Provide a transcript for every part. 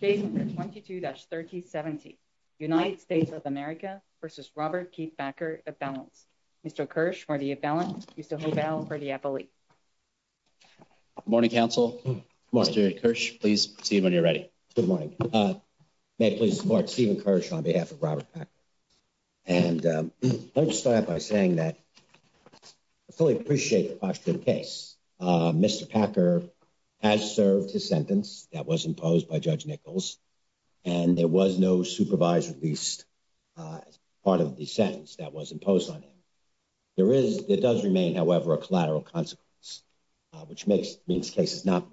Case number 22-3070, United States of America v. Robert Keith Packer, of Valence. Mr. Kirsch, for the of Valence, Mr. Hovell for the appellee. Good morning, counsel. Mr. Kirsch, please proceed when you're ready. Good morning. May I please support Stephen Kirsch on behalf of Robert Packer? And I'd like to start out by saying that I fully appreciate the posture of the case. Mr. Packer has served his sentence that was imposed by Judge Nichols, and there was no supervisor released as part of the sentence that was imposed on him. There is, it does remain, however, a collateral consequence, which makes, means cases not.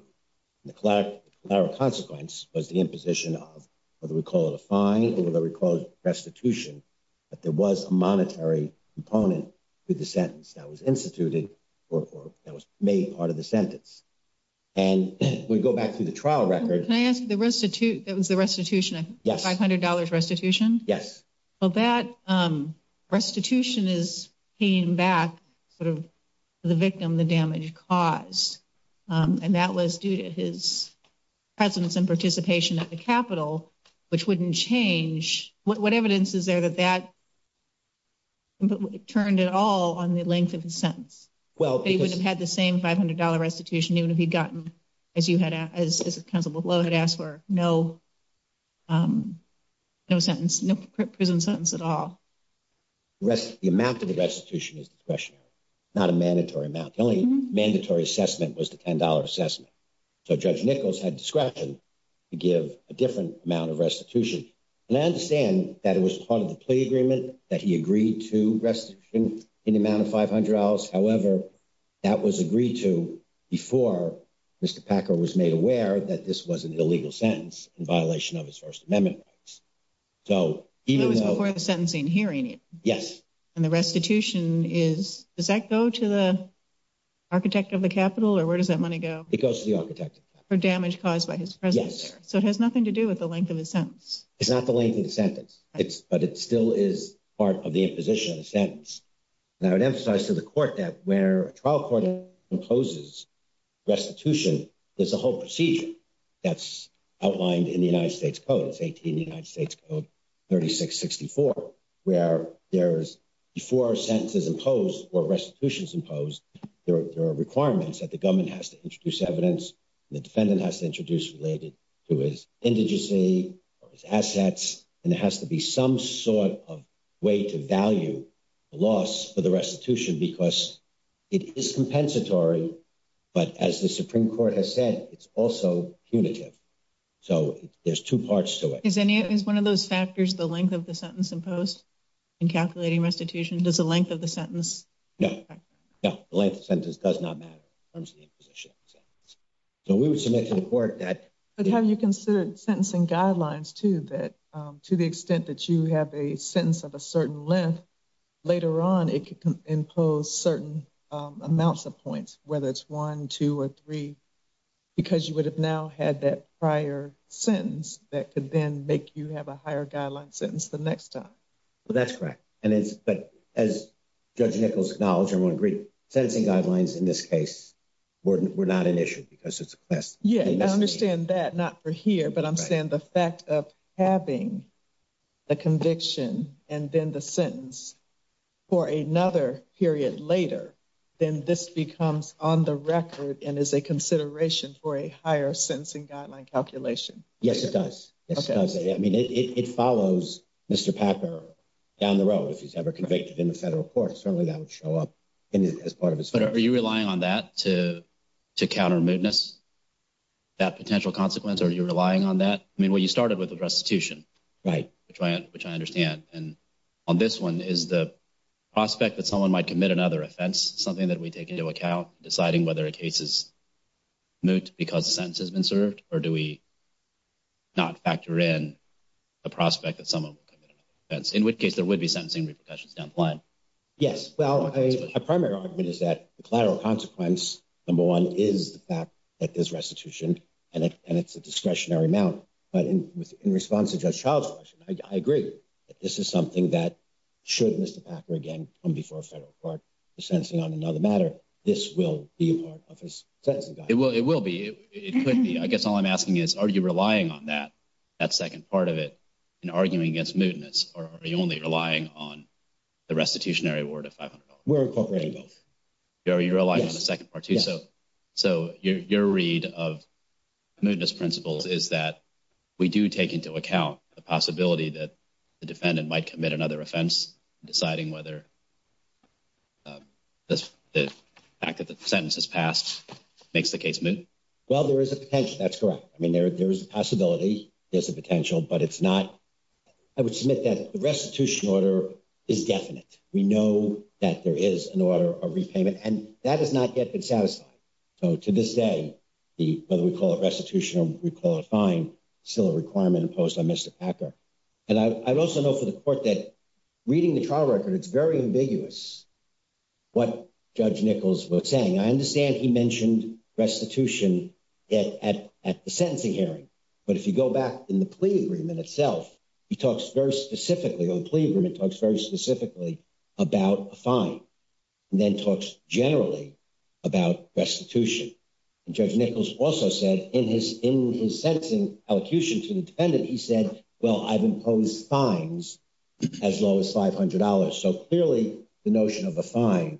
The collateral consequence was the imposition of, whether we call it a fine or whether we call it restitution, that there was a monetary component to the sentence that was instituted or that was made part of the sentence. And we go back to the trial record. Can I ask the restitution, that was the restitution, $500 restitution? Yes. Well, that restitution is paying back sort of the victim, the damage caused. And that was due to his presence and participation at the Capitol, which wouldn't change. What evidence is there that that turned at all on the length of his sentence? Well, he would have had the same $500 restitution even if he'd gotten, as you had, as Councilman Lowe had asked for, no, no sentence, no prison sentence at all. The amount of the restitution is discretionary, not a mandatory amount. The only mandatory assessment was the $10 assessment. So Judge Nichols had discretion to give a different amount of restitution. And I understand that it was part of the plea agreement that he agreed to restitution in the amount of $500. However, that was agreed to before Mr. Packer was made aware that this was an illegal sentence in violation of his First Amendment rights. So even though it was before the sentencing hearing it. Yes. And the restitution is, does that go to the architect of the Capitol or where does that money go? It goes to the architect of the Capitol. For damage caused by his presence there. Yes. So it has nothing to do with the length of his sentence. It's not the length of the sentence. But it still is part of the imposition of the sentence. And I would emphasize to the court that where a trial court imposes restitution, there's a whole procedure that's outlined in the United States Code. It's 18 United States Code 3664, where there's before a sentence is imposed or restitution is imposed, there are requirements that the government has to introduce evidence. The defendant has to introduce related to his indigency or his assets. And there has to be some sort of way to value the loss for the restitution because it is compensatory. But as the Supreme Court has said, it's also punitive. So there's two parts to it. Is any is one of those factors the length of the sentence imposed in calculating restitution? Does the length of the sentence? No, no. The length of the sentence does not matter in terms of the imposition of the sentence. So we would submit to the court that. But have you considered sentencing guidelines, too, that to the extent that you have a sentence of a certain length later on, it could impose certain amounts of points, whether it's one, two, or three, because you would have now had that prior sentence that could then make you have a higher guideline sentence the next time. Well, that's correct. And it's but as Judge Nichols acknowledged, everyone agreed, sentencing guidelines in this case were not an issue because it's a class. Yeah, I understand that. Not for here. But I'm saying the fact of having a conviction and then the sentence for another period later, then this becomes on the record and is a consideration for a higher sentencing guideline calculation. Yes, it does. I mean, it follows Mr. Packer down the road if he's ever convicted in the federal court. Certainly that would show up as part of his. But are you relying on that to to counter mootness, that potential consequence? Are you relying on that? I mean, when you started with the restitution. Right. Which I understand. And on this one is the prospect that someone might commit another offense, something that we take into account, deciding whether a case is moot because the sentence has been served. Or do we not factor in the prospect that someone would commit another offense, in which case there would be sentencing repercussions down the line? Yes. Well, a primary argument is that the collateral consequence, number one, is the fact that there's restitution and it's a discretionary amount. But in response to Judge Child's question, I agree that this is something that should Mr. Packer again come before a federal court. The sentencing on another matter, this will be a part of his sentencing. It will. It will be. It could be. I guess all I'm asking is, are you relying on that? That second part of it in arguing against mootness? Or are you only relying on the restitutionary award of $500? We're incorporating both. Are you relying on the second part, too? So so your read of mootness principles is that we do take into account the possibility that the defendant might commit another offense, deciding whether the fact that the sentence is passed makes the case moot? Well, there is a potential. That's correct. I mean, there is a possibility. There's a potential, but it's not. I would submit that the restitution order is definite. We know that there is an order of repayment and that has not yet been satisfied. So to this day, whether we call it restitution or we call it a fine, it's still a requirement imposed on Mr. Packer. And I also know for the court that reading the trial record, it's very ambiguous what Judge Nichols was saying. I understand he mentioned restitution at the sentencing hearing. But if you go back in the plea agreement itself, he talks very specifically on plea agreement, talks very specifically about a fine and then talks generally about restitution. And Judge Nichols also said in his in his sentencing elocution to the defendant, he said, well, I've imposed fines as low as $500. So clearly the notion of a fine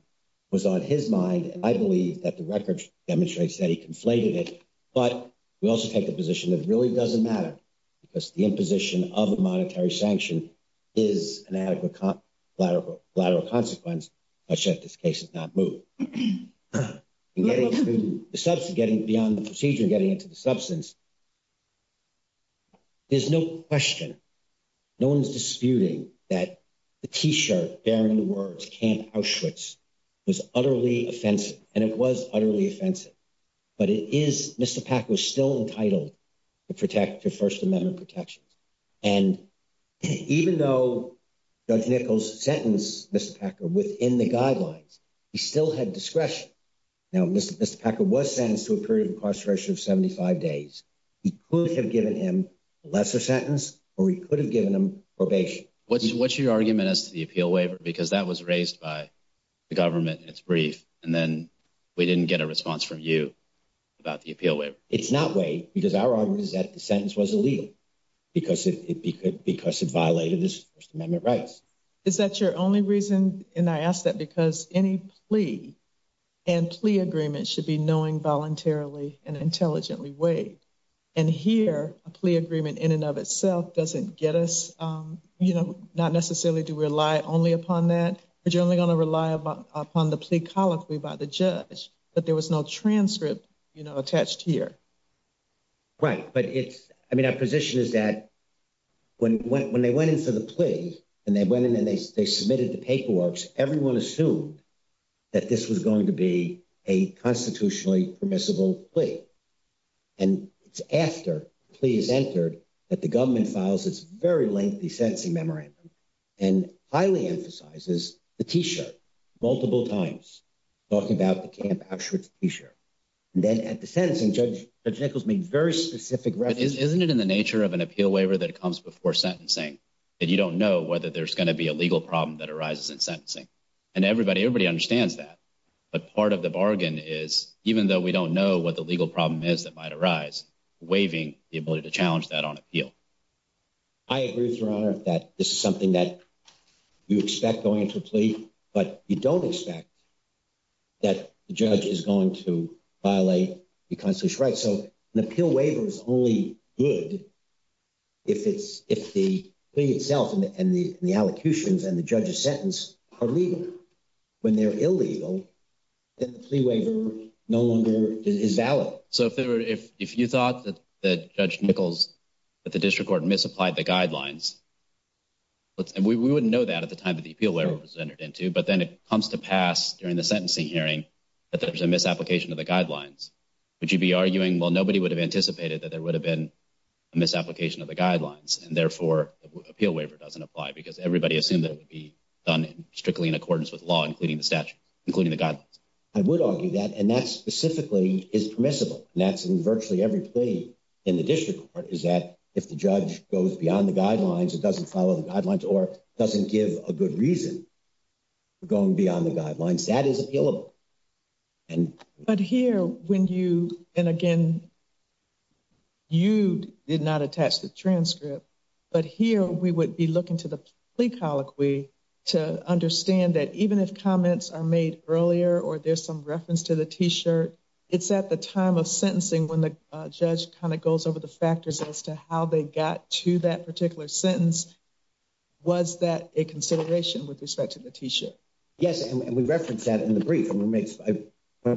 was on his mind. And I believe that the record demonstrates that he conflated it. But we also take the position that really doesn't matter because the imposition of a monetary sanction is an adequate collateral consequence. Such that this case is not moved and getting beyond the procedure and getting into the substance. There's no question, no one's disputing that the T-shirt bearing the words Camp Auschwitz was utterly offensive and it was utterly offensive. But it is Mr. Packer still entitled to protect the First Amendment protections. And even though Judge Nichols sentenced Mr. Packer within the guidelines, he still had discretion. Now, Mr. Packer was sentenced to a period of incarceration of 75 days. He could have given him a lesser sentence or he could have given him probation. What's your argument as to the appeal waiver? Because that was raised by the government in its brief and then we didn't get a response from you about the appeal waiver. It's not waived because our argument is that the sentence was illegal because it violated his First Amendment rights. Is that your only reason? And I ask that because any plea and plea agreement should be knowing voluntarily and intelligently waived. And here, a plea agreement in and of itself doesn't get us, you know, not necessarily to rely only upon that. But you're only going to rely upon the plea colloquy by the judge. But there was no transcript, you know, attached here. Right, but it's, I mean, our position is that when they went in for the plea and they went in and they submitted the paperwork, everyone assumed that this was going to be a constitutionally permissible plea. And it's after the plea is entered that the government files its very lengthy sentencing memorandum and highly emphasizes the T-shirt multiple times, talking about the Camp Auschwitz T-shirt. And then at the sentencing, Judge Nichols made very specific references. Isn't it in the nature of an appeal waiver that it comes before sentencing that you don't know whether there's going to be a legal problem that arises in sentencing? And everybody, everybody understands that. But part of the bargain is, even though we don't know what the legal problem is that might arise, waiving the ability to challenge that on appeal. I agree, Your Honor, that this is something that you expect going into a plea, but you don't expect that the judge is going to violate the constitutional right. So an appeal waiver is only good if the plea itself and the allocutions and the judge's sentence are legal. When they're illegal, then the plea waiver no longer is valid. So if you thought that Judge Nichols, that the district court misapplied the guidelines, we wouldn't know that at the time that the appeal waiver was entered into. But then it comes to pass during the sentencing hearing that there's a misapplication of the guidelines. Would you be arguing, well, nobody would have anticipated that there would have been a misapplication of the guidelines. And therefore, appeal waiver doesn't apply because everybody assumed that it would be done strictly in accordance with law, including the statute, including the guidelines. I would argue that and that specifically is permissible. And that's in virtually every plea in the district court is that if the judge goes beyond the guidelines, it doesn't follow the guidelines or doesn't give a good reason going beyond the guidelines that is appealable. And but here when you and again, you did not attach the transcript, but here we would be looking to the plea colloquy to understand that even if comments are made earlier or there's some reference to the T-shirt, it's at the time of sentencing when the judge kind of goes over the factors as to how they got to that particular sentence. Was that a consideration with respect to the T-shirt? Yes, and we reference that in the brief. I'm going to make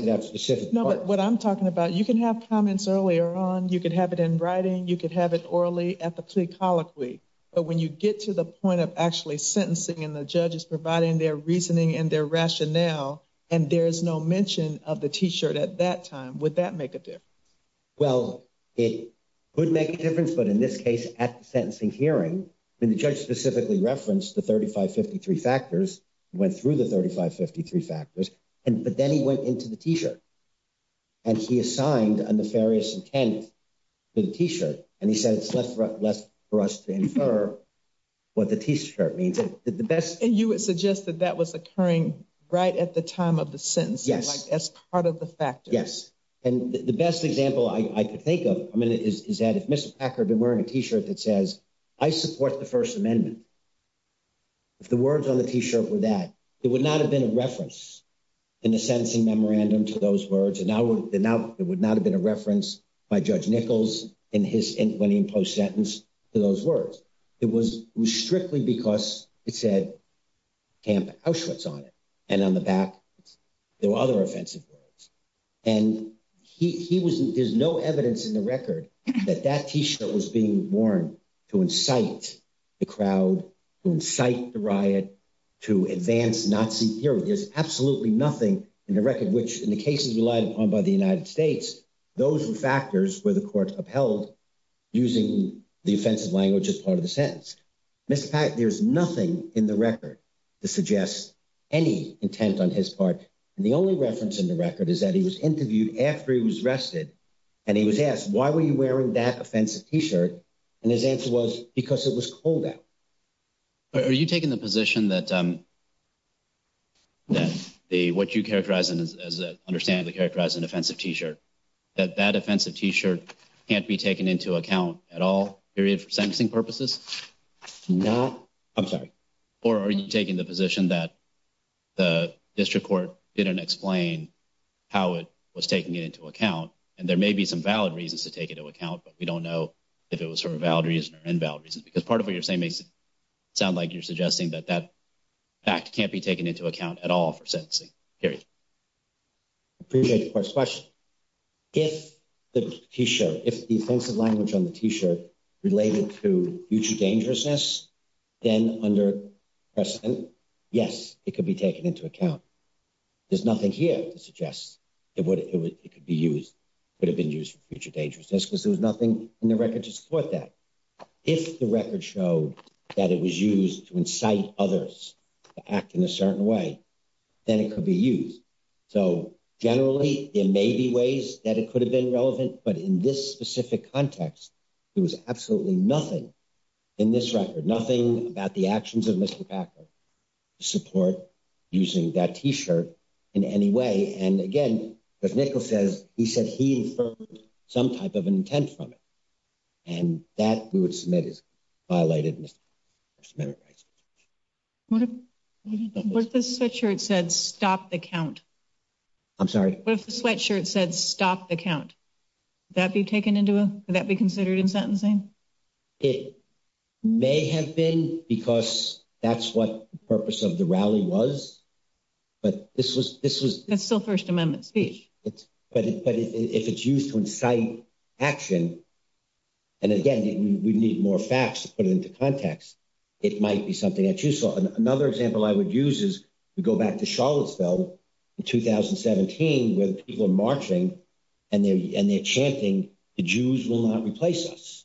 that specific. No, but what I'm talking about, you can have comments earlier on. You could have it in writing. You could have it orally at the plea colloquy. But when you get to the point of actually sentencing and the judge is providing their reasoning and their rationale, and there is no mention of the T-shirt at that time, would that make a difference? Well, it would make a difference. But in this case, at the sentencing hearing, when the judge specifically referenced the 3553 factors, went through the 3553 factors. And but then he went into the T-shirt. And he assigned a nefarious intent to the T-shirt. And he said, it's less for us to infer what the T-shirt means. And you would suggest that that was occurring right at the time of the sentence as part of the factor. Yes. And the best example I could think of. I mean, is that if Mr. Packer had been wearing a T-shirt that says, I support the First Amendment. If the words on the T-shirt were that, it would not have been a reference in the sentencing memorandum to those words. And now it would not have been a reference by Judge Nichols in his 20 imposed sentence to those words. It was strictly because it said Camp Auschwitz on it. And on the back, there were other offensive words. And he was, there's no evidence in the record that that T-shirt was being worn to incite the crowd, incite the riot, to advance Nazi hero. There's absolutely nothing in the record, which in the cases relied upon by the United States, those were factors where the court upheld using the offensive language as part of the sentence. Mr. Packer, there's nothing in the record to suggest any intent on his part. And the only reference in the record is that he was interviewed after he was arrested and he was asked, why were you wearing that offensive T-shirt? And his answer was, because it was cold out. Are you taking the position that the what you characterize as understandably characterized an offensive T-shirt, that that offensive T-shirt can't be taken into account at all, period, for sentencing purposes? No, I'm sorry. Or are you taking the position that the district court didn't explain how it was taking it into account? And there may be some valid reasons to take it into account, but we don't know if it was for a valid reason or invalid reason, because part of what you're saying makes it sound like you're suggesting that that fact can't be taken into account at all for sentencing, period. Appreciate the question. If the T-shirt, if the offensive language on the T-shirt related to future dangerousness, then under precedent, yes, it could be taken into account. There's nothing here to suggest it could be used, could have been used for future dangerousness because there was nothing in the record to support that. If the record showed that it was used to incite others to act in a certain way, then it could be used. So generally, there may be ways that it could have been relevant, but in this specific context, there was absolutely nothing in this record, nothing about the actions of Mr. Packer to support using that T-shirt in any way. And again, as Nichol says, he said he inferred some type of intent from it, and that we would submit as violated Mr. Packer's amendment rights. What if the sweatshirt said stop the count? I'm sorry. What if the sweatshirt said stop the count? Would that be taken into, would that be considered in sentencing? It may have been because that's what the purpose of the rally was. But this was, this was. That's still First Amendment speech. But if it's used to incite action, and again, we need more facts to put it into context, it might be something that's useful. Another example I would use is to go back to Charlottesville in 2017, where the people are marching and they're chanting, the Jews will not replace us.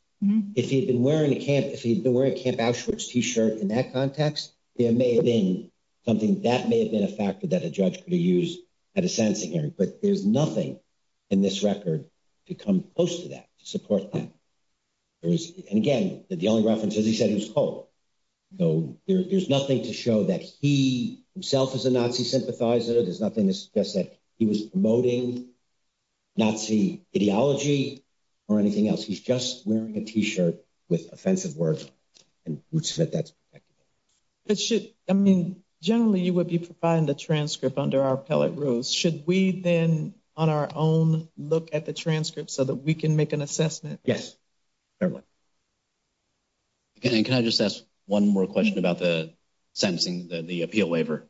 If he'd been wearing a camp, if he'd been wearing a Camp Auschwitz T-shirt in that context, there may have been something, that may have been a factor that a judge could have used at a sentencing hearing. But there's nothing in this record to come close to that, to support that. There is, and again, the only reference is he said he was cold. So there's nothing to show that he himself is a Nazi sympathizer. There's nothing to suggest that he was promoting Nazi ideology or anything else. He's just wearing a T-shirt with offensive words. And Ruth Smith, that's perfect. But should, I mean, generally you would be providing the transcript under our appellate rules. Should we then on our own look at the transcript so that we can make an assessment? Yes, fair enough. Can I just ask one more question about the sentencing, the appeal waiver?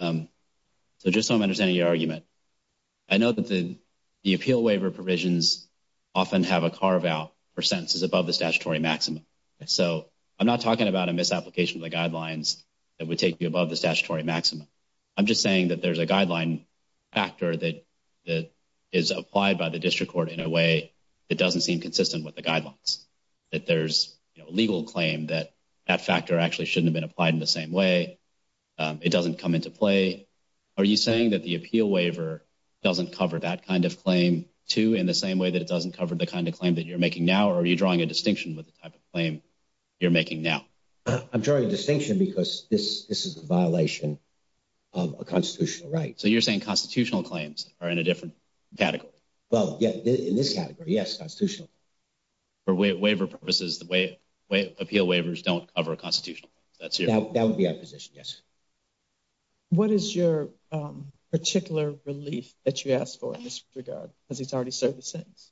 So just so I'm understanding your argument. I know that the appeal waiver provisions often have a carve out for sentences above the statutory maximum. So I'm not talking about a misapplication of the guidelines that would take you above the statutory maximum. I'm just saying that there's a guideline factor that is applied by the district court in a way that doesn't seem consistent with the guidelines. That there's a legal claim that that factor actually shouldn't have been applied in the same way. It doesn't come into play. Are you saying that the appeal waiver doesn't cover that kind of claim, too, in the same way that it doesn't cover the kind of claim that you're making now? Or are you drawing a distinction with the type of claim you're making now? I'm drawing a distinction because this is a violation of a constitutional right. So you're saying constitutional claims are in a different category? Well, yeah, in this category, yes, constitutional. For waiver purposes, the appeal waivers don't cover a constitutional claim. That would be our position, yes. What is your particular relief that you ask for in this regard? Because it's already served its sentence.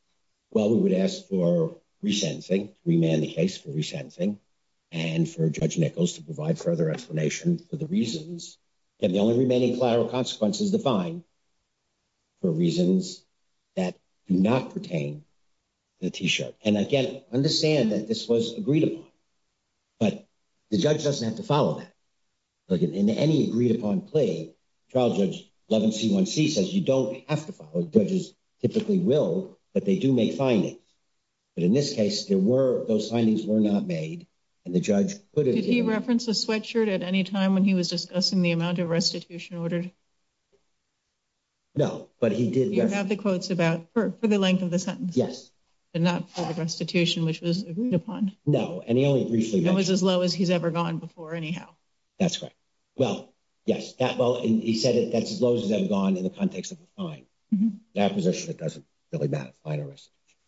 Well, we would ask for resentencing, to remand the case for resentencing, and for Judge Nichols to provide further explanation for the reasons, and the only remaining collateral consequences to find for reasons that do not pertain to the T-shirt. And again, understand that this was agreed upon, but the judge doesn't have to follow that. In any agreed-upon plea, trial Judge Levin C1C says you don't have to follow. Judges typically will, but they do make findings. But in this case, those findings were not made, and the judge put it in— Did he reference the sweatshirt at any time when he was discussing the amount of restitution ordered? No, but he did— You have the quotes about—for the length of the sentence? Yes. But not for the restitution, which was agreed upon? No, and he only briefly mentioned— That was as low as he's ever gone before, anyhow. That's correct. Well, yes, that—well, he said that's as low as he's ever gone in the context of a fine. That position, it doesn't really matter, fine or restitution.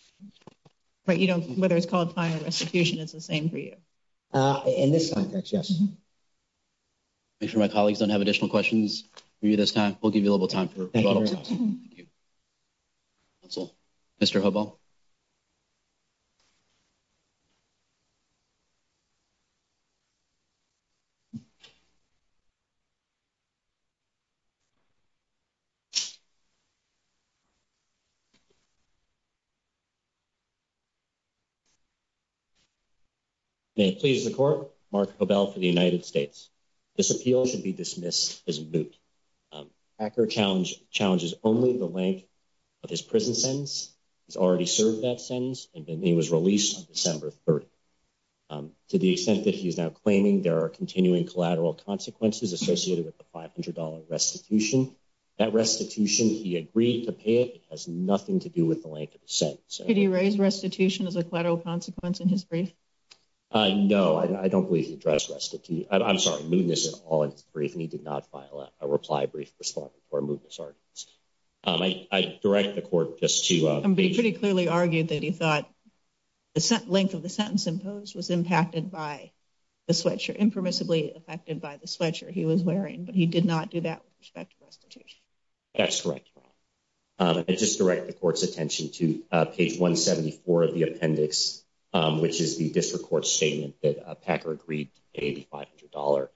But you don't—whether it's called fine or restitution, it's the same for you? In this context, yes. Make sure my colleagues don't have additional questions for you this time. We'll give you a little bit of time for— Thank you very much. Thank you. Counsel, Mr. Hubel. May it please the Court, Mark Hubel for the United States. This appeal should be dismissed as moot. Hacker challenges only the length of his prison sentence. He's already served that sentence, and he was released on December 30th. To the extent that he is now claiming there are continuing collateral consequences associated with the $500 restitution, that restitution, he agreed to pay it. It has nothing to do with the length of the sentence. Did he raise restitution as a collateral consequence in his brief? No, I don't believe he addressed—I'm sorry, mootness at all in his brief, and he did not file that. A reply brief responding to our mootness arguments. I direct the Court just to— But he pretty clearly argued that he thought the length of the sentence imposed was impacted by the sweatshirt, impermissibly affected by the sweatshirt he was wearing, but he did not do that with respect to restitution. That's correct, Your Honor. I just direct the Court's attention to page 174 of the appendix, which is the district court's statement that Packer agreed to pay the $500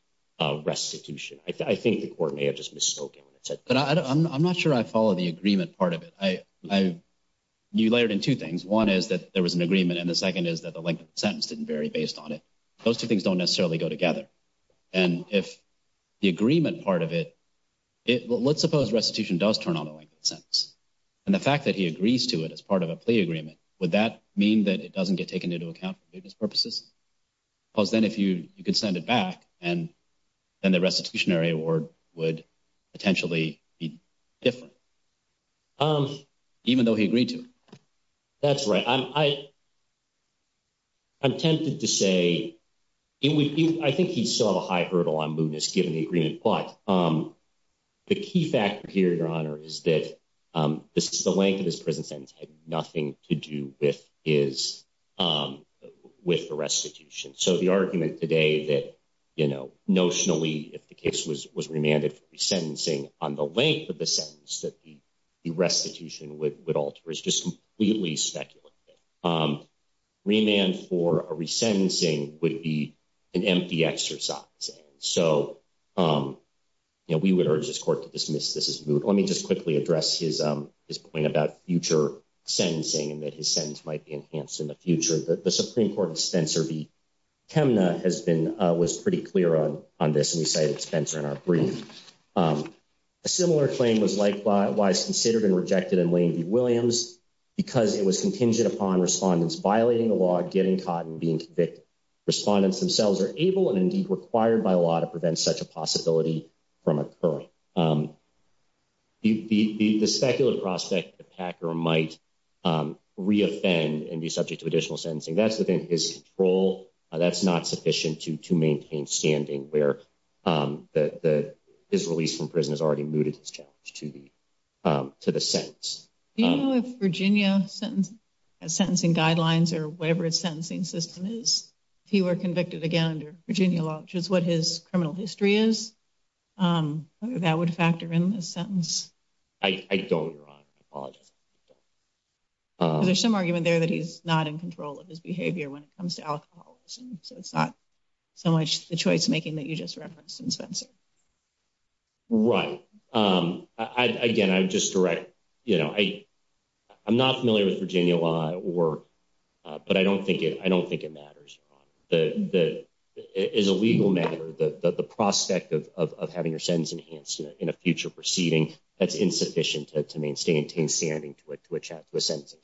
restitution. I think the Court may have just mistook him. But I'm not sure I follow the agreement part of it. You layered in two things. One is that there was an agreement, and the second is that the length of the sentence didn't vary based on it. Those two things don't necessarily go together. And if the agreement part of it—let's suppose restitution does turn on the length of the sentence, and the fact that he agrees to it as part of a plea agreement, would that mean that it doesn't get taken into account for mootness purposes? Because then if you could send it back, then the restitutionary award would potentially be different, even though he agreed to it. That's right. I'm tempted to say I think he saw a high hurdle on mootness given the agreement, The key factor here, Your Honor, is that the length of his prison sentence had nothing to do with the restitution. So the argument today that notionally, if the case was remanded for resentencing, on the length of the sentence that the restitution would alter is just completely speculative. Remand for a resentencing would be an empty exercise. So, you know, we would urge this court to dismiss this as moot. Let me just quickly address his point about future sentencing and that his sentence might be enhanced in the future. The Supreme Court, Spencer v. Chemna, was pretty clear on this, and we cited Spencer in our brief. A similar claim was likewise considered and rejected in Lane v. Williams because it was contingent upon respondents violating the law, getting caught, and being convicted. Respondents themselves are able and indeed required by law to prevent such a possibility from occurring. The speculative prospect that Packer might re-offend and be subject to additional sentencing, that's within his control. That's not sufficient to maintain standing where his release from prison has already mooted his challenge to the sentence. Do you know if Virginia has sentencing guidelines or whatever its sentencing system is? If he were convicted again under Virginia law, which is what his criminal history is, whether that would factor in this sentence? I don't, Your Honor. I apologize. There's some argument there that he's not in control of his behavior when it comes to alcoholism, so it's not so much the choice making that you just referenced in Spencer. Right. Again, I'm not familiar with Virginia law, but I don't think it matters, Your Honor. As a legal matter, the prospect of having your sentence enhanced in a future proceeding, that's insufficient to maintain standing to a sentencing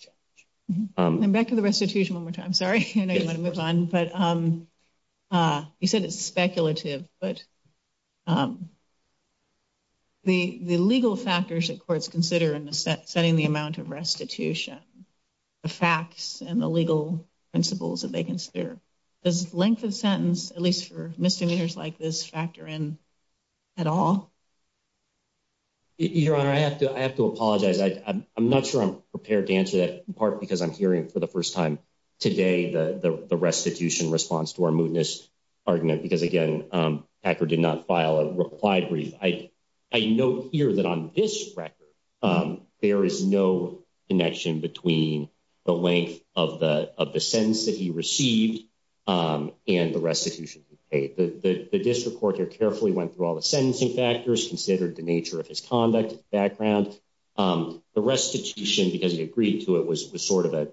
challenge. Back to the restitution one more time. Sorry, I know you want to move on. You said it's speculative, but the legal factors that courts consider in setting the amount of restitution, the facts and the legal principles that they consider, does length of sentence, at least for misdemeanors like this, factor in at all? Your Honor, I have to apologize. I'm not sure I'm prepared to answer that, in part because I'm hearing for the first time today the restitution response to our mootness argument, because again, Packard did not file a reply brief. I note here that on this record, there is no connection between the length of the sentence that he received and the restitution he paid. The district court here carefully went through all the sentencing factors, considered the nature of his conduct, background. The restitution, because he agreed to it, was sort of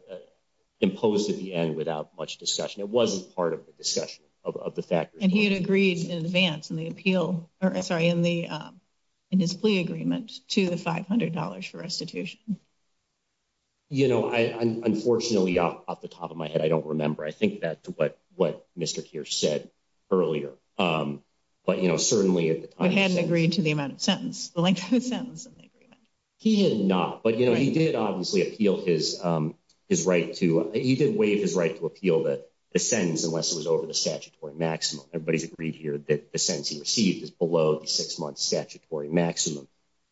imposed at the end without much discussion. It wasn't part of the discussion of the factors. And he had agreed in advance in the appeal, sorry, in his plea agreement to the $500 for restitution. You know, unfortunately, off the top of my head, I don't remember. I think that's what Mr. Keir said earlier. But, you know, certainly at the time… He hadn't agreed to the amount of sentence, the length of the sentence in the agreement. He had not. But, you know, he did obviously appeal his right to… He did waive his right to appeal the sentence unless it was over the statutory maximum. Everybody's agreed here that the sentence he received is below the six-month statutory maximum.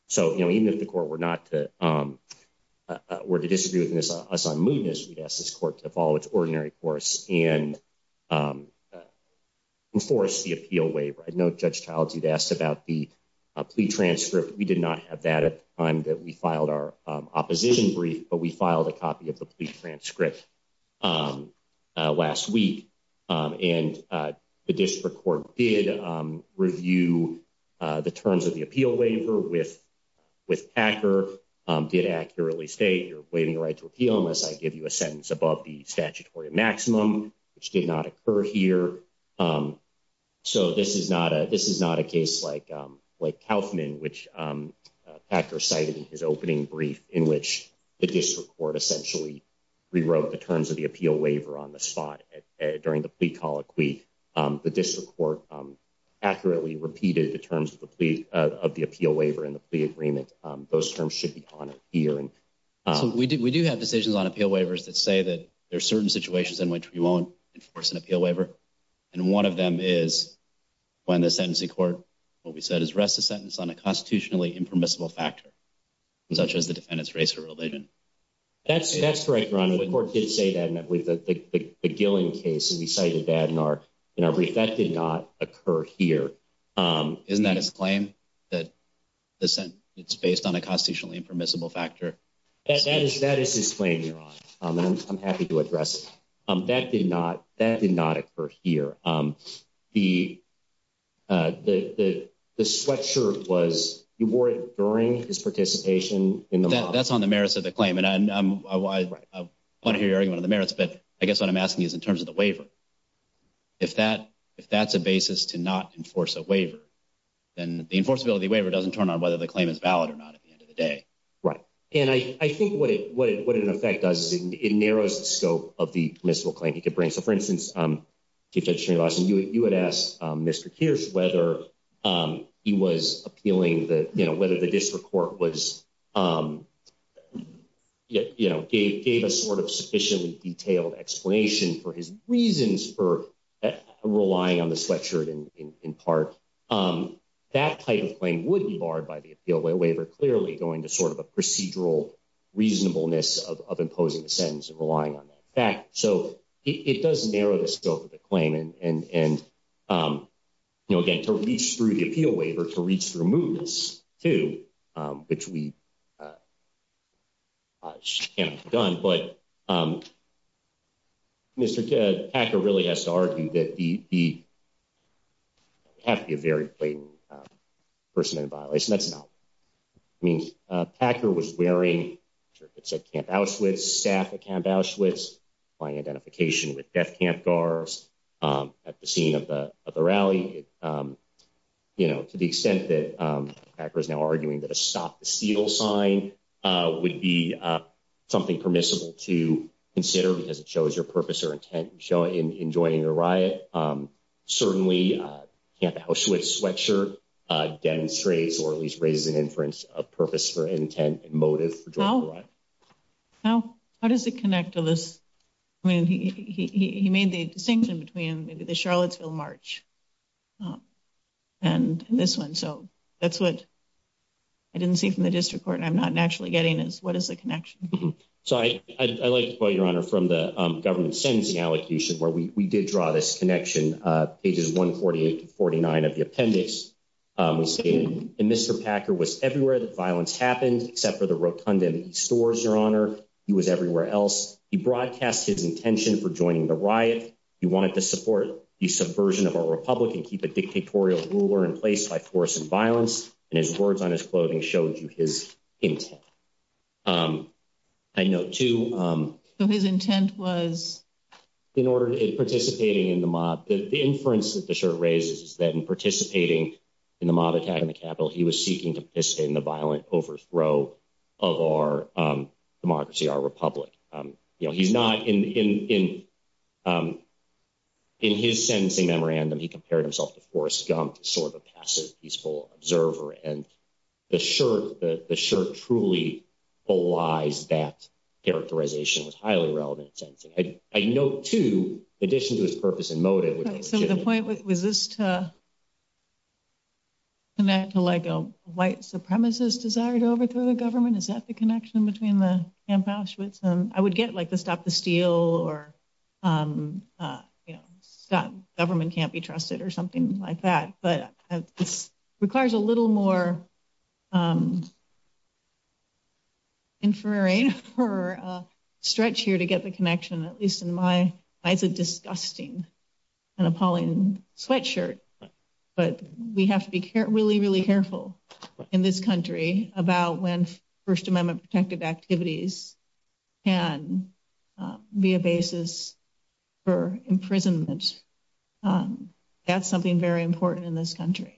So, you know, even if the court were to disagree with us on mootness, we'd ask this court to follow its ordinary course and enforce the appeal waiver. I know Judge Childs, you'd asked about the plea transcript. We did not have that at the time that we filed our opposition brief, but we filed a copy of the plea transcript last week. And the district court did review the terms of the appeal waiver with Packer, did accurately state you're waiving your right to appeal unless I give you a sentence above the statutory maximum, which did not occur here. So this is not a case like Kauffman, which Packer cited in his opening brief, in which the district court essentially rewrote the terms of the appeal waiver on the spot during the plea colloquy. The district court accurately repeated the terms of the appeal waiver in the plea agreement. Those terms should be honored here. We do have decisions on appeal waivers that say that there are certain situations in which we won't enforce an appeal waiver. And one of them is when the sentencing court, what we said, is rest the sentence on a constitutionally impermissible factor, such as the defendant's race or religion. That's correct, Your Honor. The court did say that with the Gillen case, and we cited that in our brief. That did not occur here. Isn't that his claim, that the sentence is based on a constitutionally impermissible factor? That is his claim, Your Honor, and I'm happy to address it. That did not occur here. The sweatshirt was, you wore it during his participation in the mob. That's on the merits of the claim, and I want to hear your argument on the merits, but I guess what I'm asking is in terms of the waiver. If that's a basis to not enforce a waiver, then the enforceability waiver doesn't turn on whether the claim is valid or not at the end of the day. Right. And I think what an effect does is it narrows the scope of the permissible claim he could bring. So, for instance, Chief Judiciary Lawson, you would ask Mr. Kirsch whether he was appealing, whether the district court gave a sort of sufficiently detailed explanation for his reasons for relying on the sweatshirt in part. That type of claim would be barred by the appeal waiver, clearly going to sort of a procedural reasonableness of imposing the sentence and relying on that. In fact, so it does narrow the scope of the claim. And, you know, again, to reach through the appeal waiver, to reach through movements, too, which we can't have done. But Mr. Packer really has to argue that he would have to be a very blatant person in violation. I mean, Packer was wearing it's at Camp Auschwitz, staff at Camp Auschwitz by identification with death camp guards at the scene of the rally. You know, to the extent that Packer is now arguing that a stop the seal sign would be something permissible to consider because it shows your purpose or intent in joining the riot. Certainly, Camp Auschwitz sweatshirt demonstrates or at least raises an inference of purpose for intent motive. How does it connect to this? I mean, he made the distinction between the Charlottesville march and this one. So that's what I didn't see from the district court. I'm not naturally getting is what is the connection? So I like to quote your honor from the government sentencing allocation where we did draw this connection. Pages 148 to 49 of the appendix was in. And Mr. Packer was everywhere that violence happened, except for the rotunda stores. Your honor, he was everywhere else. He broadcast his intention for joining the riot. He wanted to support the subversion of a Republican, keep a dictatorial ruler in place by force and violence. And his words on his clothing showed you his intent. I know, too. So his intent was in order to participate in the mob. The inference that the shirt raises is that in participating in the mob attack in the capital, he was seeking to participate in the violent overthrow of our democracy, our republic. You know, he's not in in in his sentencing memorandum. He compared himself to Forrest Gump, sort of a passive, peaceful observer. And the shirt, the shirt truly belies that characterization was highly relevant. And I know, too, addition to his purpose and motive. So the point was this to connect to like a white supremacist desire to overthrow the government. Is that the connection between the Camp Auschwitz? And I would get like the stop the steal or, you know, stop government can't be trusted or something like that. But this requires a little more. Infrared for a stretch here to get the connection, at least in my eyes, a disgusting and appalling sweatshirt. But we have to be really, really careful in this country about when First Amendment protected activities and be a basis for imprisonment. That's something very important in this country.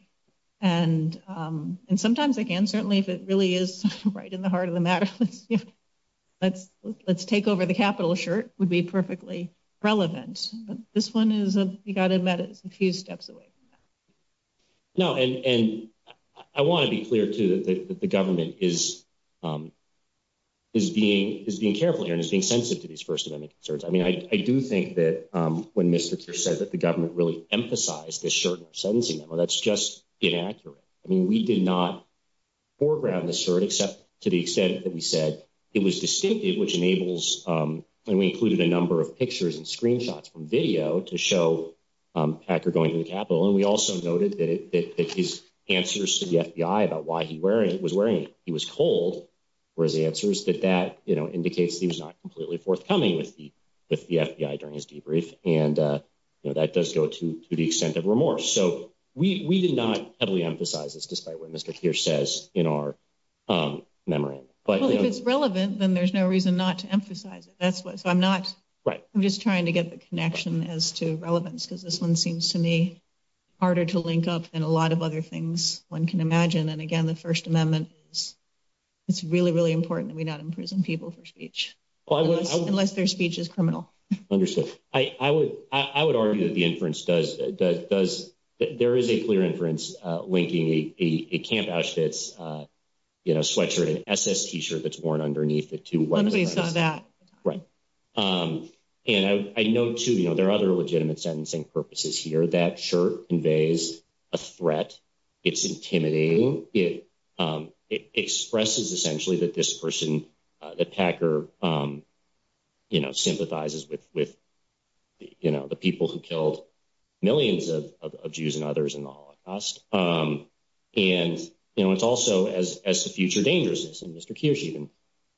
And and sometimes again, certainly if it really is right in the heart of the matter, let's let's let's take over. The capital shirt would be perfectly relevant. This one is, you've got to admit, it's a few steps away. No, and I want to be clear, too, that the government is. Is being is being careful here and is being sensitive to these First Amendment concerns. I mean, I do think that when Mr. Kerr said that the government really emphasized this certain sentencing, well, that's just inaccurate. I mean, we did not foreground the shirt, except to the extent that we said it was distinctive, which enables. And we included a number of pictures and screenshots from video to show Packer going to the Capitol. And we also noted that his answers to the FBI about why he wearing it was wearing it. He was cold, whereas the answer is that that indicates he was not completely forthcoming with the FBI during his debrief. And that does go to the extent of remorse. So we did not heavily emphasize this, despite what Mr. Kerr says in our memory. But if it's relevant, then there's no reason not to emphasize it. That's what I'm not right. I'm just trying to get the connection as to relevance, because this one seems to me harder to link up and a lot of other things one can imagine. And again, the First Amendment is it's really, really important that we not imprison people for speech unless their speech is criminal. Understood. I would I would argue that the inference does. Does there is a clear inference linking a Camp Auschwitz sweatshirt, an SS T-shirt that's worn underneath the two. Right. And I know, too, there are other legitimate sentencing purposes here. That shirt conveys a threat. It's intimidating. It expresses essentially that this person, that Packer, you know, sympathizes with, with, you know, the people who killed millions of Jews and others in the Holocaust. And, you know, it's also as as a future dangerousness.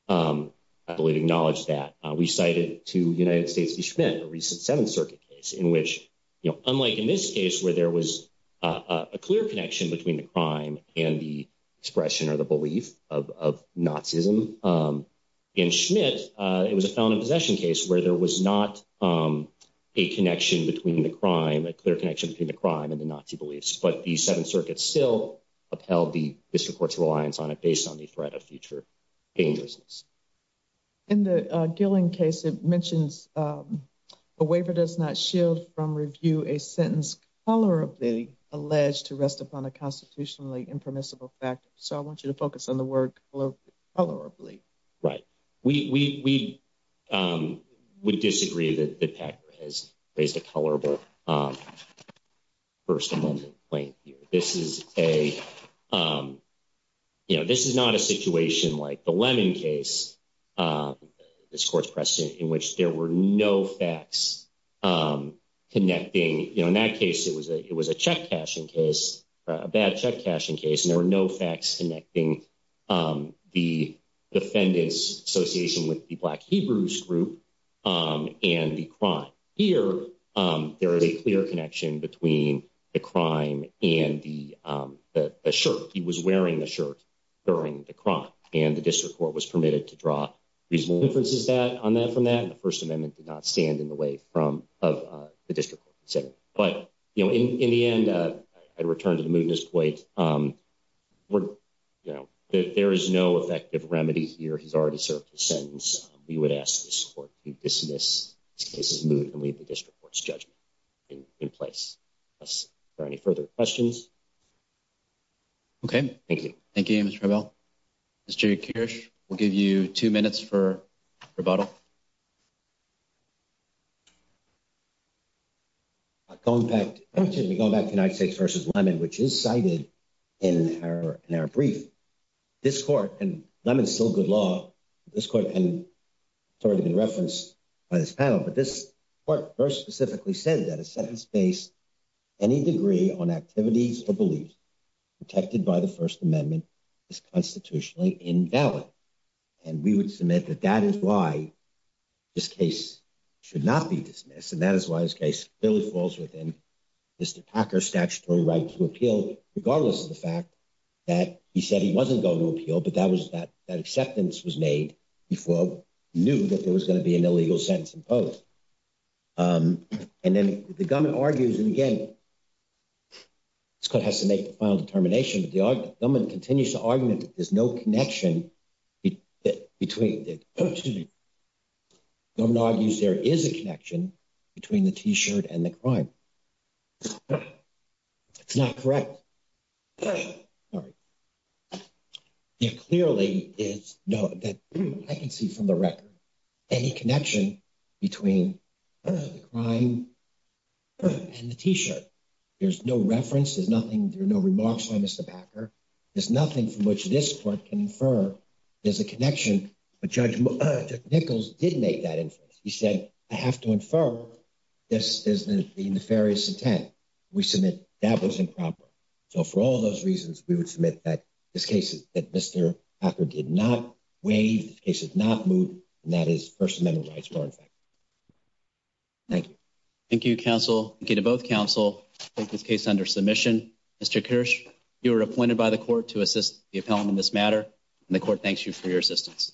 I believe acknowledge that we cited to the United States the Schmidt, a recent Seventh Circuit case in which, you know, unlike in this case where there was a clear connection between the crime and the expression or the belief of Nazism in Schmidt, it was a felon in possession case where there was not a connection between the crime, a clear connection between the crime and the Nazi beliefs. But the Seventh Circuit still upheld the district court's reliance on it based on the threat of future dangerousness. In the Gilling case, it mentions a waiver does not shield from review a sentence color of the alleged to rest upon a constitutionally impermissible fact. So I want you to focus on the work colorably. Right. We would disagree that the Packer has raised a colorable. First of all, this is a, you know, this is not a situation like the Lemon case, this court's precedent in which there were no facts connecting. You know, in that case, it was a it was a check cashing case, a bad check cashing case. And there were no facts connecting the defendants association with the black Hebrews group and the crime here. There is a clear connection between the crime and the shirt. He was wearing the shirt during the crime and the district court was permitted to draw reasonable inferences that on that from that. The First Amendment did not stand in the way from the district. But, you know, in the end, I'd return to the mootness plate. You know, there is no effective remedy here. He's already served his sentence. We would ask this court to dismiss this case and leave the district court's judgment in place. Are there any further questions? Okay. Thank you. Thank you. Mr. Mr. Kirsch, we'll give you 2 minutes for rebuttal. Going back to the United States versus Lemon, which is cited in our brief. This court and Lemon is still good law. This court and it's already been referenced by this panel. But this court first specifically said that a sentence based any degree on activities or beliefs protected by the First Amendment is constitutionally invalid. And we would submit that that is why this case should not be dismissed. And that is why this case really falls within Mr. Packer statutory right to appeal, regardless of the fact that he said he wasn't going to appeal. But that was that that acceptance was made before we knew that there was going to be an illegal sentence imposed. And then the government argues and again. This court has to make the final determination, but the government continues to argument that there's no connection between. Excuse me. The government argues there is a connection between the T-shirt and the crime. It's not correct. Sorry. It clearly is that I can see from the record any connection between crime and the T-shirt. There's no reference. There's nothing. There are no remarks on Mr. Packer. There's nothing from which this court can infer there's a connection. But Judge Nichols didn't make that inference. He said, I have to infer this is the nefarious intent. We submit that was improper. So for all those reasons, we would submit that this case that Mr. Packer did not waive cases, not move. And that is First Amendment rights. Thank you. Thank you, counsel. Thank you to both counsel. This case under submission, Mr. Kirsch, you were appointed by the court to assist the appellant in this matter. And the court thanks you for your assistance.